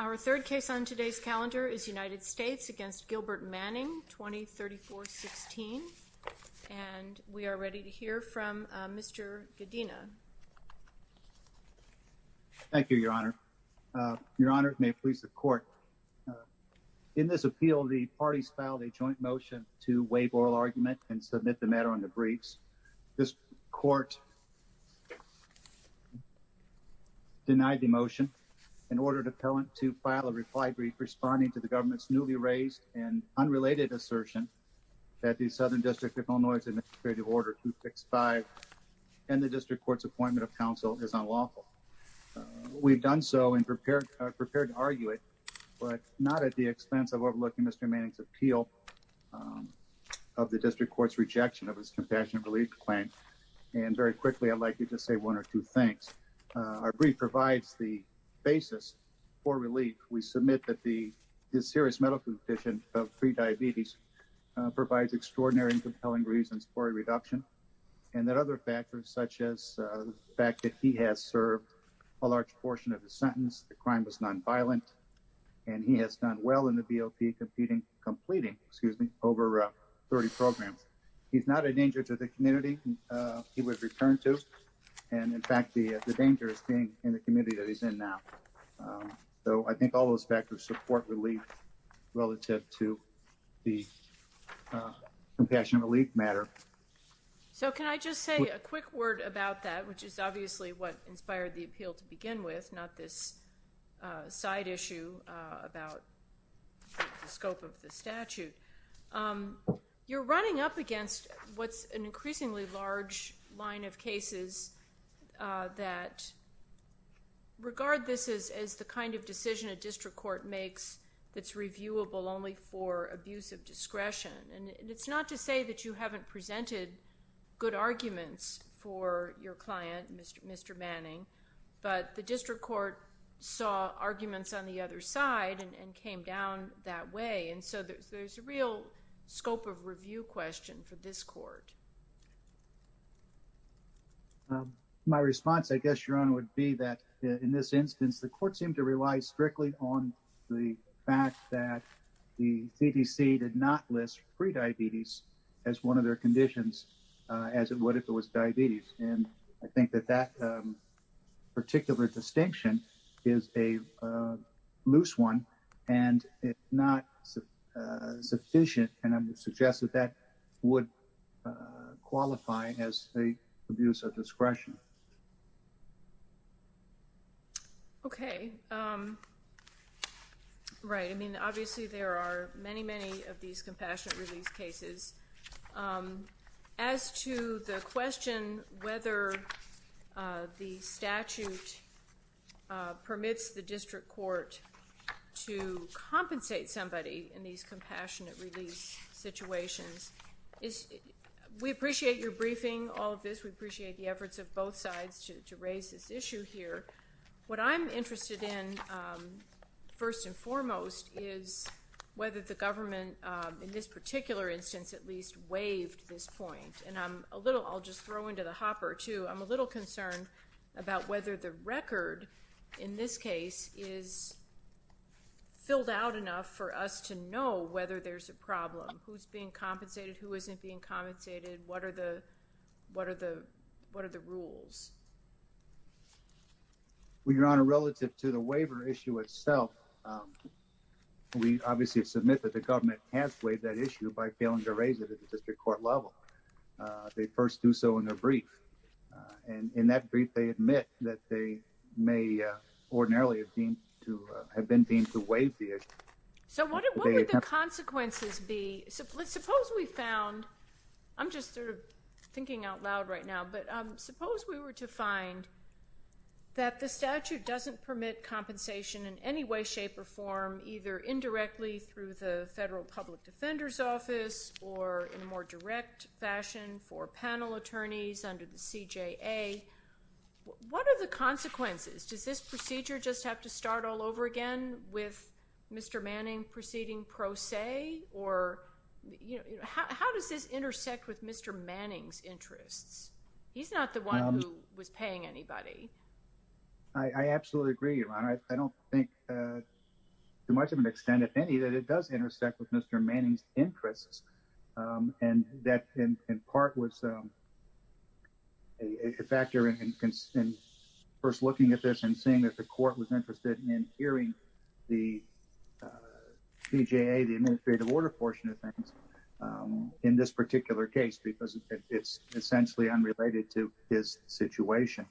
Our third case on today's calendar is United States v. Gilbert Manning, 2034-16, and we are ready to hear from Mr. Godina. Thank you, Your Honor. Your Honor, it may please the Court. In this appeal, the parties filed a joint motion to waive oral argument and submit the matter on the briefs. This Court denied the motion and ordered appellant to file a reply brief responding to the government's newly raised and unrelated assertion that the Southern District of Illinois Administrative Order 265 and the District Court's appointment of counsel is unlawful. We've done so and prepared to argue it, but not at the expense of overlooking Mr. Manning's of the District Court's rejection of his compassionate relief claim. And very quickly, I'd like you to say one or two things. Our brief provides the basis for relief. We submit that his serious medical condition of pre-diabetes provides extraordinary and compelling reasons for a reduction, and that other factors such as the fact that he has served a large portion of his sentence, the crime was nonviolent, and he has done well in the BOP completing over 30 programs. He's not a danger to the community he was returned to, and in fact, the danger is staying in the community that he's in now. So I think all those factors support relief relative to the compassion relief matter. So can I just say a quick word about that, which is obviously what inspired the appeal to begin with, not this side issue about the scope of the statute. You're running up against what's an increasingly large line of cases that regard this as the kind of decision a district court makes that's reviewable only for abuse of discretion. And it's not to say that you haven't presented good arguments for your client, Mr. Manning, but the district court saw arguments on the other side and came down that way. And so there's a real scope of review question for this court. My response, I guess, Your Honor, would be that in this instance, the court seemed to not list prediabetes as one of their conditions, as it would if it was diabetes. And I think that that particular distinction is a loose one, and it's not sufficient. And I would suggest that that would qualify as a abuse of discretion. Okay. Right. I mean, obviously, there are many, many of these compassionate release cases. As to the question whether the statute permits the district court to compensate somebody in these compassionate release situations, we appreciate your briefing all of this. We appreciate the efforts of both sides to raise this issue here. What I'm interested in, first and foremost, is whether the government in this particular instance at least waived this point. And I'm a little—I'll just throw into the hopper, too—I'm a little concerned about whether the record in this case is filled out enough for us to know whether there's a problem. Who's being compensated? Who isn't being compensated? What are the rules? Well, Your Honor, relative to the waiver issue itself, we obviously submit that the government can't waive that issue by failing to raise it at the district court level. They first do so in a brief. In that brief, they admit that they may ordinarily have been deemed to waive the issue. So what would the consequences be? Suppose we found—I'm just sort of thinking out loud right now—but suppose we were to find that the statute doesn't permit compensation in any way, shape, or form, either indirectly through the Federal Public Defender's Office or in a more direct fashion for panel attorneys under the CJA. What are the consequences? Does this procedure just have to start all over again with Mr. Manning proceeding pro se, or—how does this intersect with Mr. Manning's interests? He's not the one who was paying anybody. I absolutely agree, Your Honor. I don't think to much of an extent, if any, that it does intersect with Mr. Manning's interest in hearing the CJA, the Administrative Order portion of things, in this particular case because it's essentially unrelated to his situation.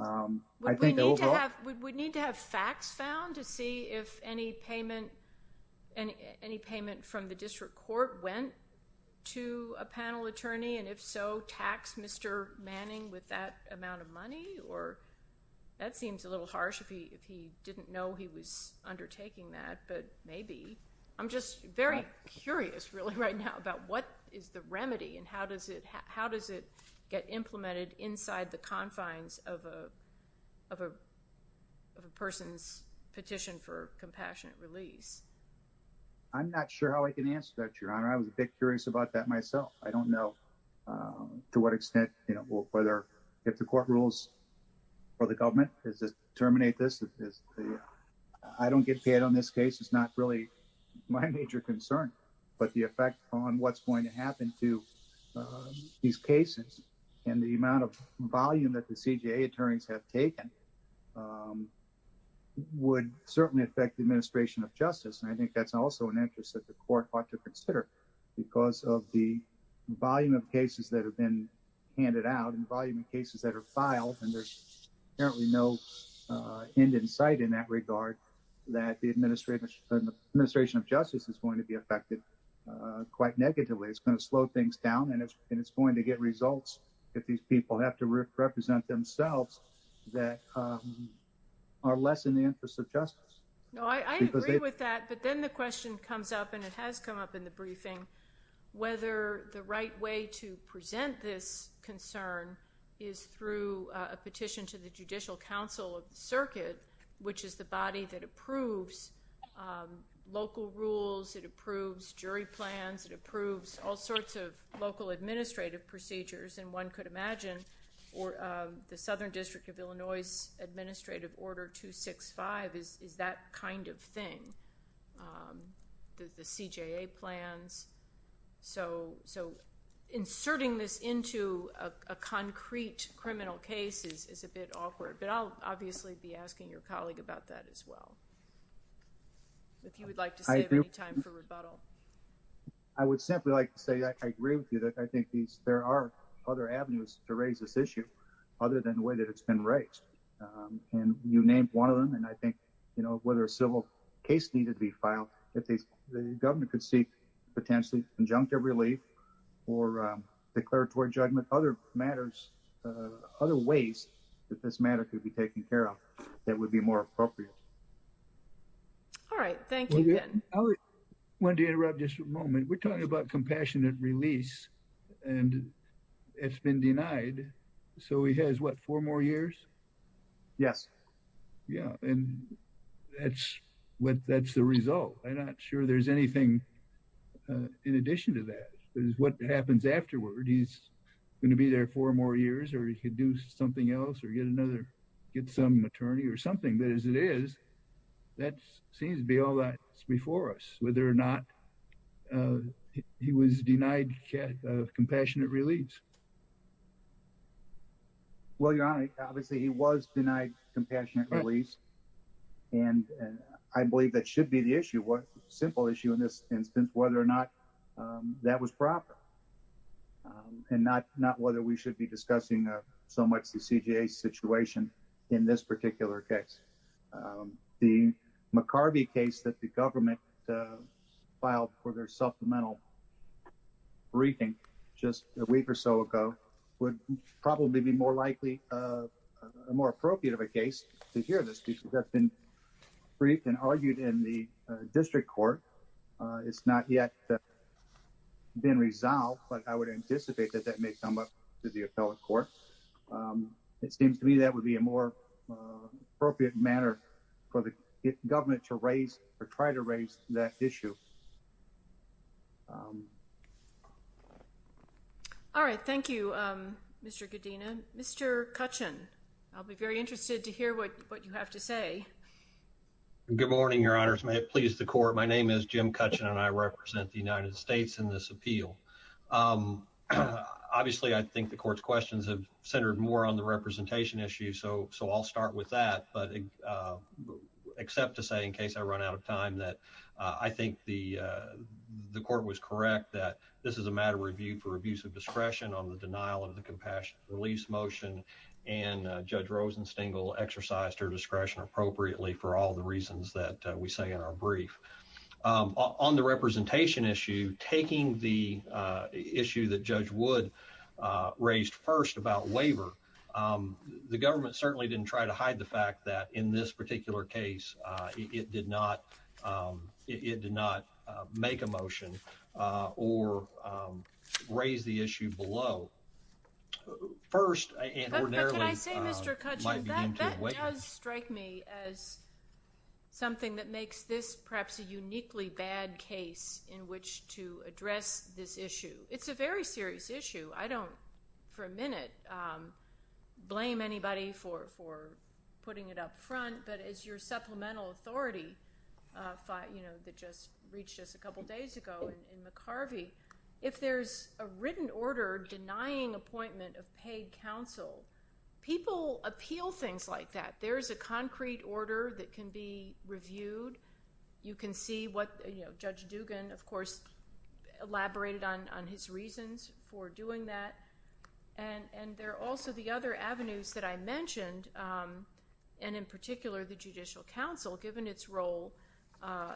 I think— Would we need to have facts found to see if any payment from the district court went to a panel attorney? And if so, tax Mr. Manning with that amount of money? Or that seems a little harsh if he didn't know he was undertaking that, but maybe. I'm just very curious, really, right now about what is the remedy and how does it get implemented inside the confines of a person's petition for compassionate release. I'm not sure how I can answer that, Your Honor. I was a bit curious about that myself. I don't know to what extent, you know, whether if the court rules or the government is to terminate this. I don't get paid on this case. It's not really my major concern, but the effect on what's going to happen to these cases and the amount of volume that the CJA attorneys have taken would certainly affect the administration of justice. And I think that's also an interest that the court ought to consider because of the volume of cases that have been handed out and volume of cases that are filed. And there's apparently no end in sight in that regard that the administration of justice is going to be affected quite negatively. It's going to slow things down and it's going to get results if these people have to represent themselves that are less in the interest of justice. No, I agree with that, but then the question comes up and it has come up in the briefing whether the right way to present this concern is through a petition to the Judicial Council of the Circuit, which is the body that approves local rules, it approves jury plans, it approves all sorts of local administrative procedures and one could imagine the Southern District of Illinois' Administrative Order 265 is that kind of thing, the CJA plans, so inserting this into a concrete criminal case is a bit awkward, but I'll obviously be asking your colleague about that as well. If you would like to save any time for rebuttal. I would simply like to say that I agree with you that I think there are other avenues to and you named one of them and I think, you know, whether a civil case needed to be filed, if the governor could seek potentially injunctive relief or declaratory judgment, other matters, other ways that this matter could be taken care of that would be more appropriate. All right, thank you, Ben. I wanted to interrupt just for a moment. We're talking about compassionate release and it's been denied, so he has, what, four more years? Yes. Yeah, and that's the result. I'm not sure there's anything in addition to that is what happens afterward. He's going to be there four more years or he could do something else or get another, but as it is, that seems to be all that's before us, whether or not he was denied compassionate release. Well, Your Honor, obviously, he was denied compassionate release and I believe that should be the issue. What simple issue in this instance, whether or not that was proper and not whether we should be discussing so much the CJA situation in this particular case, the McCarvey case that the government filed for their supplemental briefing just a week or so ago would probably be more likely, more appropriate of a case to hear this because that's been briefed and argued in the district court. It's not yet been resolved, but I would anticipate that that may come up to the appellate court. It seems to me that would be a more appropriate manner for the government to raise or try to raise that issue. All right, thank you, Mr. Godina. Mr. Cutchin, I'll be very interested to hear what you have to say. Good morning, Your Honors. May it please the court. My name is Jim Cutchin and I represent the United States in this appeal. Obviously, I think the court's questions have centered more on the representation issue, so I'll start with that, but except to say in case I run out of time that I think the court was correct that this is a matter of review for abuse of discretion on the denial of the compassionate release motion and Judge Rosenstengel exercised her discretion appropriately for all the reasons that we say in our brief. On the representation issue, taking the issue that Judge Wood raised first about waiver, the government certainly didn't try to hide the fact that in this particular case, it did not make a motion or raise the issue below. First, and ordinarily, might begin to waive it. That's a uniquely bad case in which to address this issue. It's a very serious issue. I don't, for a minute, blame anybody for putting it up front, but as your supplemental authority that just reached us a couple days ago in McCarvey, if there's a written order denying appointment of paid counsel, people appeal things like that. There's a concrete order that can be reviewed. You can see what Judge Dugan, of course, elaborated on his reasons for doing that, and there are also the other avenues that I mentioned, and in particular, the judicial counsel, given its role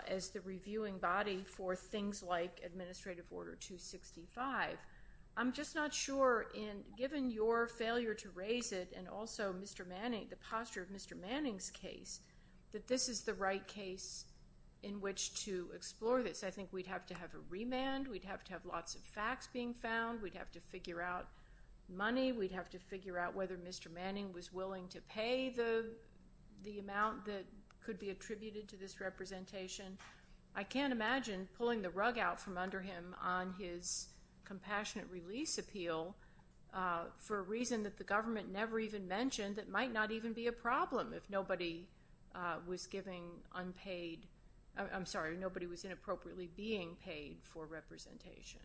as the reviewing body for things like Administrative Order 265. I'm just not sure, given your failure to raise it and also Mr. Manning, the posture of Mr. Manning's case, that this is the right case in which to explore this. I think we'd have to have a remand. We'd have to have lots of facts being found. We'd have to figure out money. We'd have to figure out whether Mr. Manning was willing to pay the amount that could be attributed to this representation. I can't imagine pulling the rug out from under him on his compassionate release appeal for a reason that the government never even mentioned that might not even be a problem if nobody was giving unpaid, I'm sorry, nobody was inappropriately being paid for representation.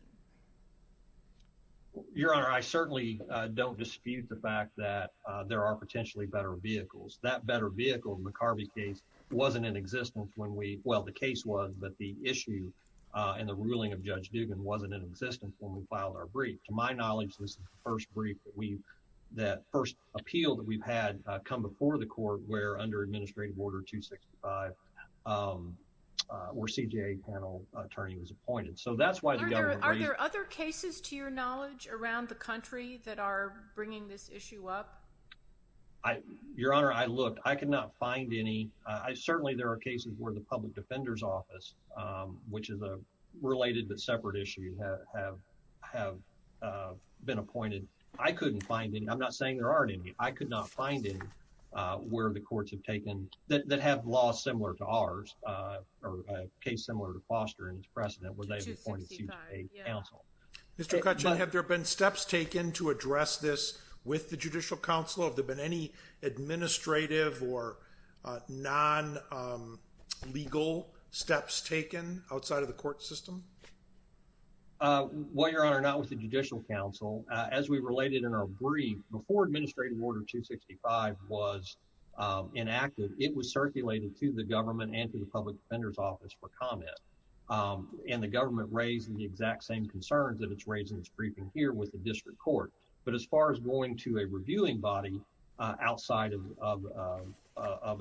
Your Honor, I certainly don't dispute the fact that there are potentially better vehicles. That better vehicle in the McCarvey case wasn't in existence when we, well, the case was, but the issue and the ruling of Judge Dugan wasn't in existence when we filed our brief. To my knowledge, this is the first brief that we, that first appeal that we've had come before the court where under Administrative Order 265, where CJA panel attorney was appointed. So, that's why the government agreed. Are there other cases, to your knowledge, around the country that are bringing this issue up? Your Honor, I looked. I could not find any. Certainly, there are cases where the Public Defender's Office, which is a related but separate issue, have been appointed. I couldn't find any. I'm not saying there aren't any. I could not find any where the courts have taken, that have laws similar to ours, or a case similar to Foster and his precedent, where they've appointed CJA counsel. Mr. Kutchin, have there been steps taken to address this with the Judicial Council? Have there been any administrative or non-legal steps taken outside of the court system? Well, Your Honor, not with the Judicial Council. As we related in our brief, before Administrative Order 265 was enacted, it was circulated to the government and to the Public Defender's Office for comment. And the government raised the exact same concerns that it's raised in its briefing here with the District Court. But as far as going to a reviewing body outside of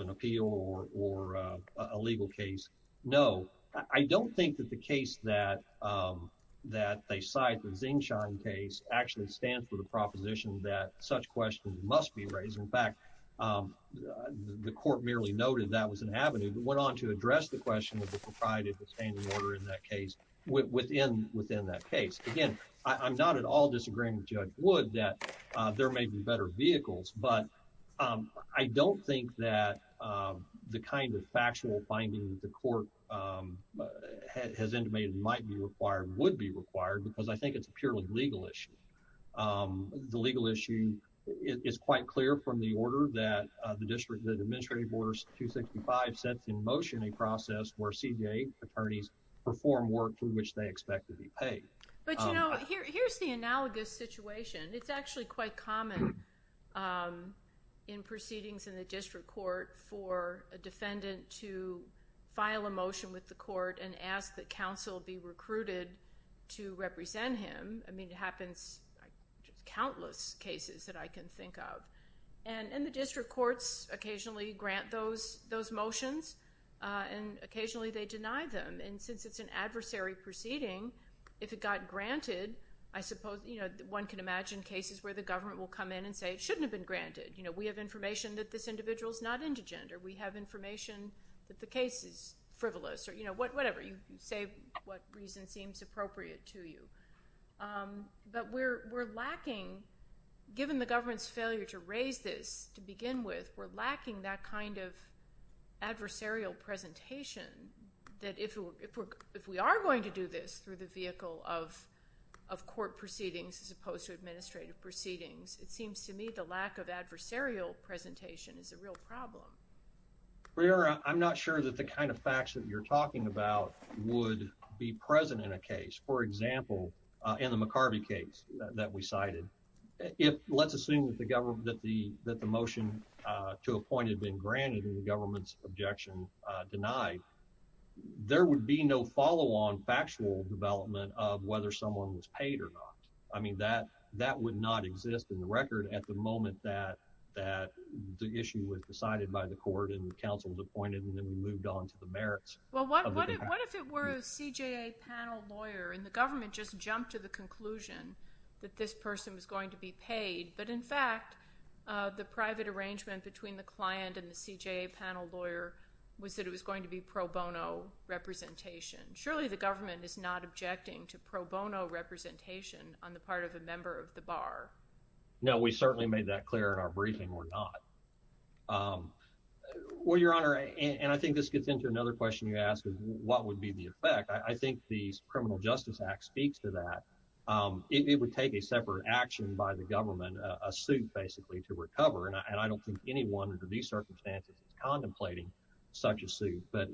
an appeal or a legal case, no. I don't think that the case that they cite, the Xing Shan case, actually stands for the proposition that such questions must be raised. In fact, the court merely noted that was an avenue that went on to address the question of the propriety of the standing order in that case, within that case. Again, I'm not at all disagreeing with Judge Wood that there may be better vehicles. But I don't think that the kind of factual finding that the court has intimated might be required would be required, because I think it's a purely legal issue. The legal issue is quite clear from the order that the Administrative Order 265 sets in motion a process where CJA attorneys perform work for which they expect to be paid. But, you know, here's the analogous situation. It's actually quite common in proceedings in the District Court for a defendant to file a motion with the court and ask that counsel be recruited to represent him. I mean, it happens in countless cases that I can think of. And the District Courts occasionally grant those motions, and occasionally they deny them. And since it's an adversary proceeding, if it got granted, I suppose one can imagine cases where the government will come in and say it shouldn't have been granted. You know, we have information that this individual is not indigent, or we have information that the case is frivolous, or, you know, whatever. You say what reason seems appropriate to you. But we're lacking, given the government's failure to raise this to begin with, we're lacking that kind of adversarial presentation that if we are going to do this through the vehicle of court proceedings as opposed to administrative proceedings, it seems to me the lack of adversarial presentation is a real problem. Breara, I'm not sure that the kind of facts that you're talking about would be present in a case. For example, in the McCarvey case that we cited, if let's assume that the motion to a point had been granted and the government's objection denied, there would be no follow-on factual development of whether someone was paid or not. I mean, that would not exist in the record at the moment that the issue was decided by the court and the counsel was appointed and then we moved on to the merits of the contract. Well, what if it were a CJA panel lawyer and the government just jumped to the conclusion that this person was going to be paid, but in fact, the private arrangement between the client and the CJA panel lawyer was that it was going to be pro bono representation. Surely the government is not objecting to pro bono representation on the part of a member of the bar. No, we certainly made that clear in our briefing or not. Well, Your Honor, and I think this gets into another question you asked is what would be the effect. I think the Criminal Justice Act speaks to that. It would take a separate action by the government, a suit basically to recover, and I don't think anyone under these circumstances is contemplating such a suit. But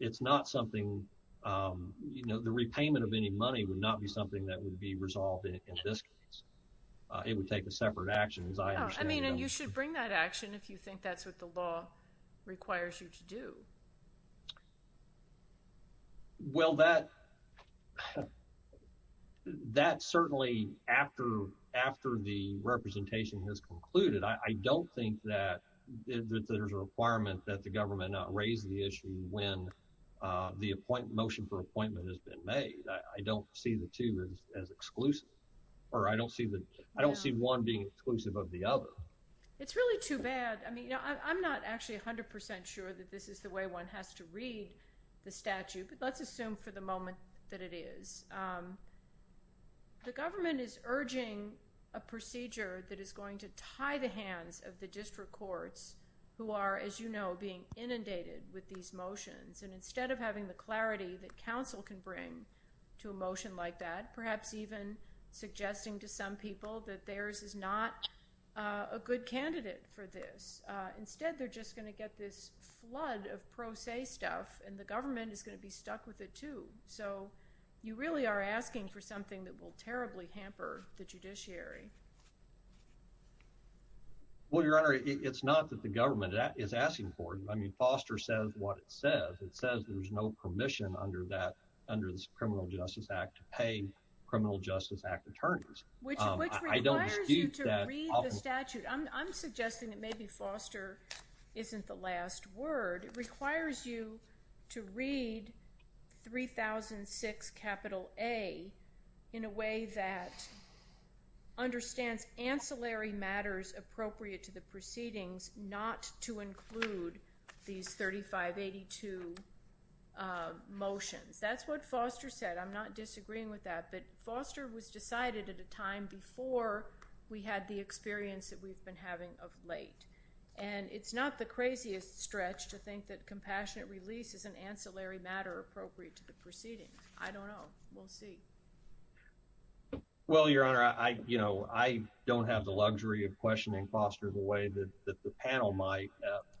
it's not something, you know, the repayment of any money would not be something that would be resolved in this case. It would take a separate action, as I understand it. I mean, and you should bring that action if you think that's what the law requires you to do. Well, that certainly after the representation has concluded, I don't think that there's a requirement that the government not raise the issue when the motion for appointment has been made. I don't see the two as exclusive, or I don't see one being exclusive of the other. It's really too bad. I mean, I'm not actually 100% sure that this is the way one has to read the statute, but let's assume for the moment that it is. The government is urging a procedure that is going to tie the hands of the district courts who are, as you know, being inundated with these motions. And instead of having the clarity that counsel can bring to a motion like that, perhaps even suggesting to some people that theirs is not a good candidate for this. Instead, they're just going to get this flood of pro se stuff, and the government is going to be stuck with it too. So you really are asking for something that will terribly hamper the judiciary. Well, Your Honor, it's not that the government is asking for it. I mean, Foster says what it says. It says there's no permission under the Criminal Justice Act to pay Criminal Justice Act attorneys. Which requires you to read the statute. I'm suggesting that maybe Foster isn't the last word. It requires you to read 3006 capital A in a way that understands ancillary matters appropriate to the proceedings, not to include these 3582 motions. That's what Foster said. I'm not disagreeing with that. But Foster was decided at a time before we had the experience that we've been having of late. And it's not the craziest stretch to think that compassionate release is an ancillary matter appropriate to the proceedings. I don't know. We'll see. Well, Your Honor, I, you know, I don't have the luxury of questioning Foster the way that the panel might.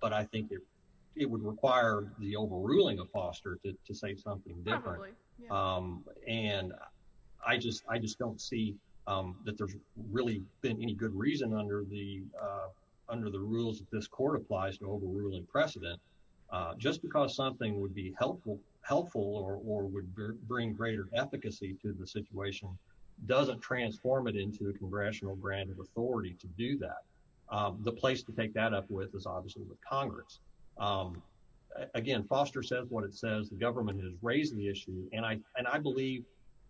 But I think it would require the overruling of Foster to say something different. Probably, yeah. And I just, I just don't see that there's really been any good reason under the, under the rules that this court applies to overruling precedent. Just because something would be helpful, helpful or would bring greater efficacy to the situation, doesn't transform it into a congressional grant of authority to do that. The place to take that up with is obviously with Congress. Again, Foster says what it says. The government has raised the issue. And I, and I believe,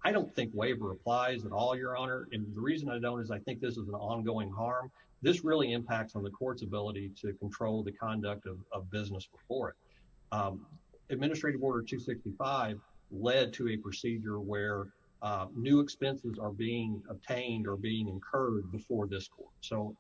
I don't think waiver applies at all, Your Honor. And the reason I don't is I think this is an ongoing harm. This really impacts on the court's ability to control the conduct of business before it. Administrative Order 265 led to a procedure where new expenses are being obtained or being incurred before this court. So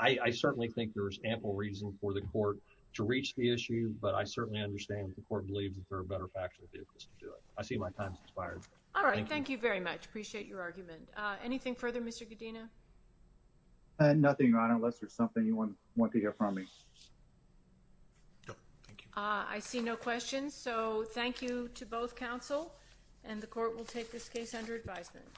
I certainly think there's ample reason for the court to reach the issue. But I certainly understand the court believes that there are better factual vehicles to do it. I see my time's expired. All right, thank you very much. Appreciate your argument. Anything further, Mr. Godino? Nothing, Your Honor, unless there's something you want to hear from me. No, thank you. I see no questions. So thank you to both counsel and the court will take this case under advisement.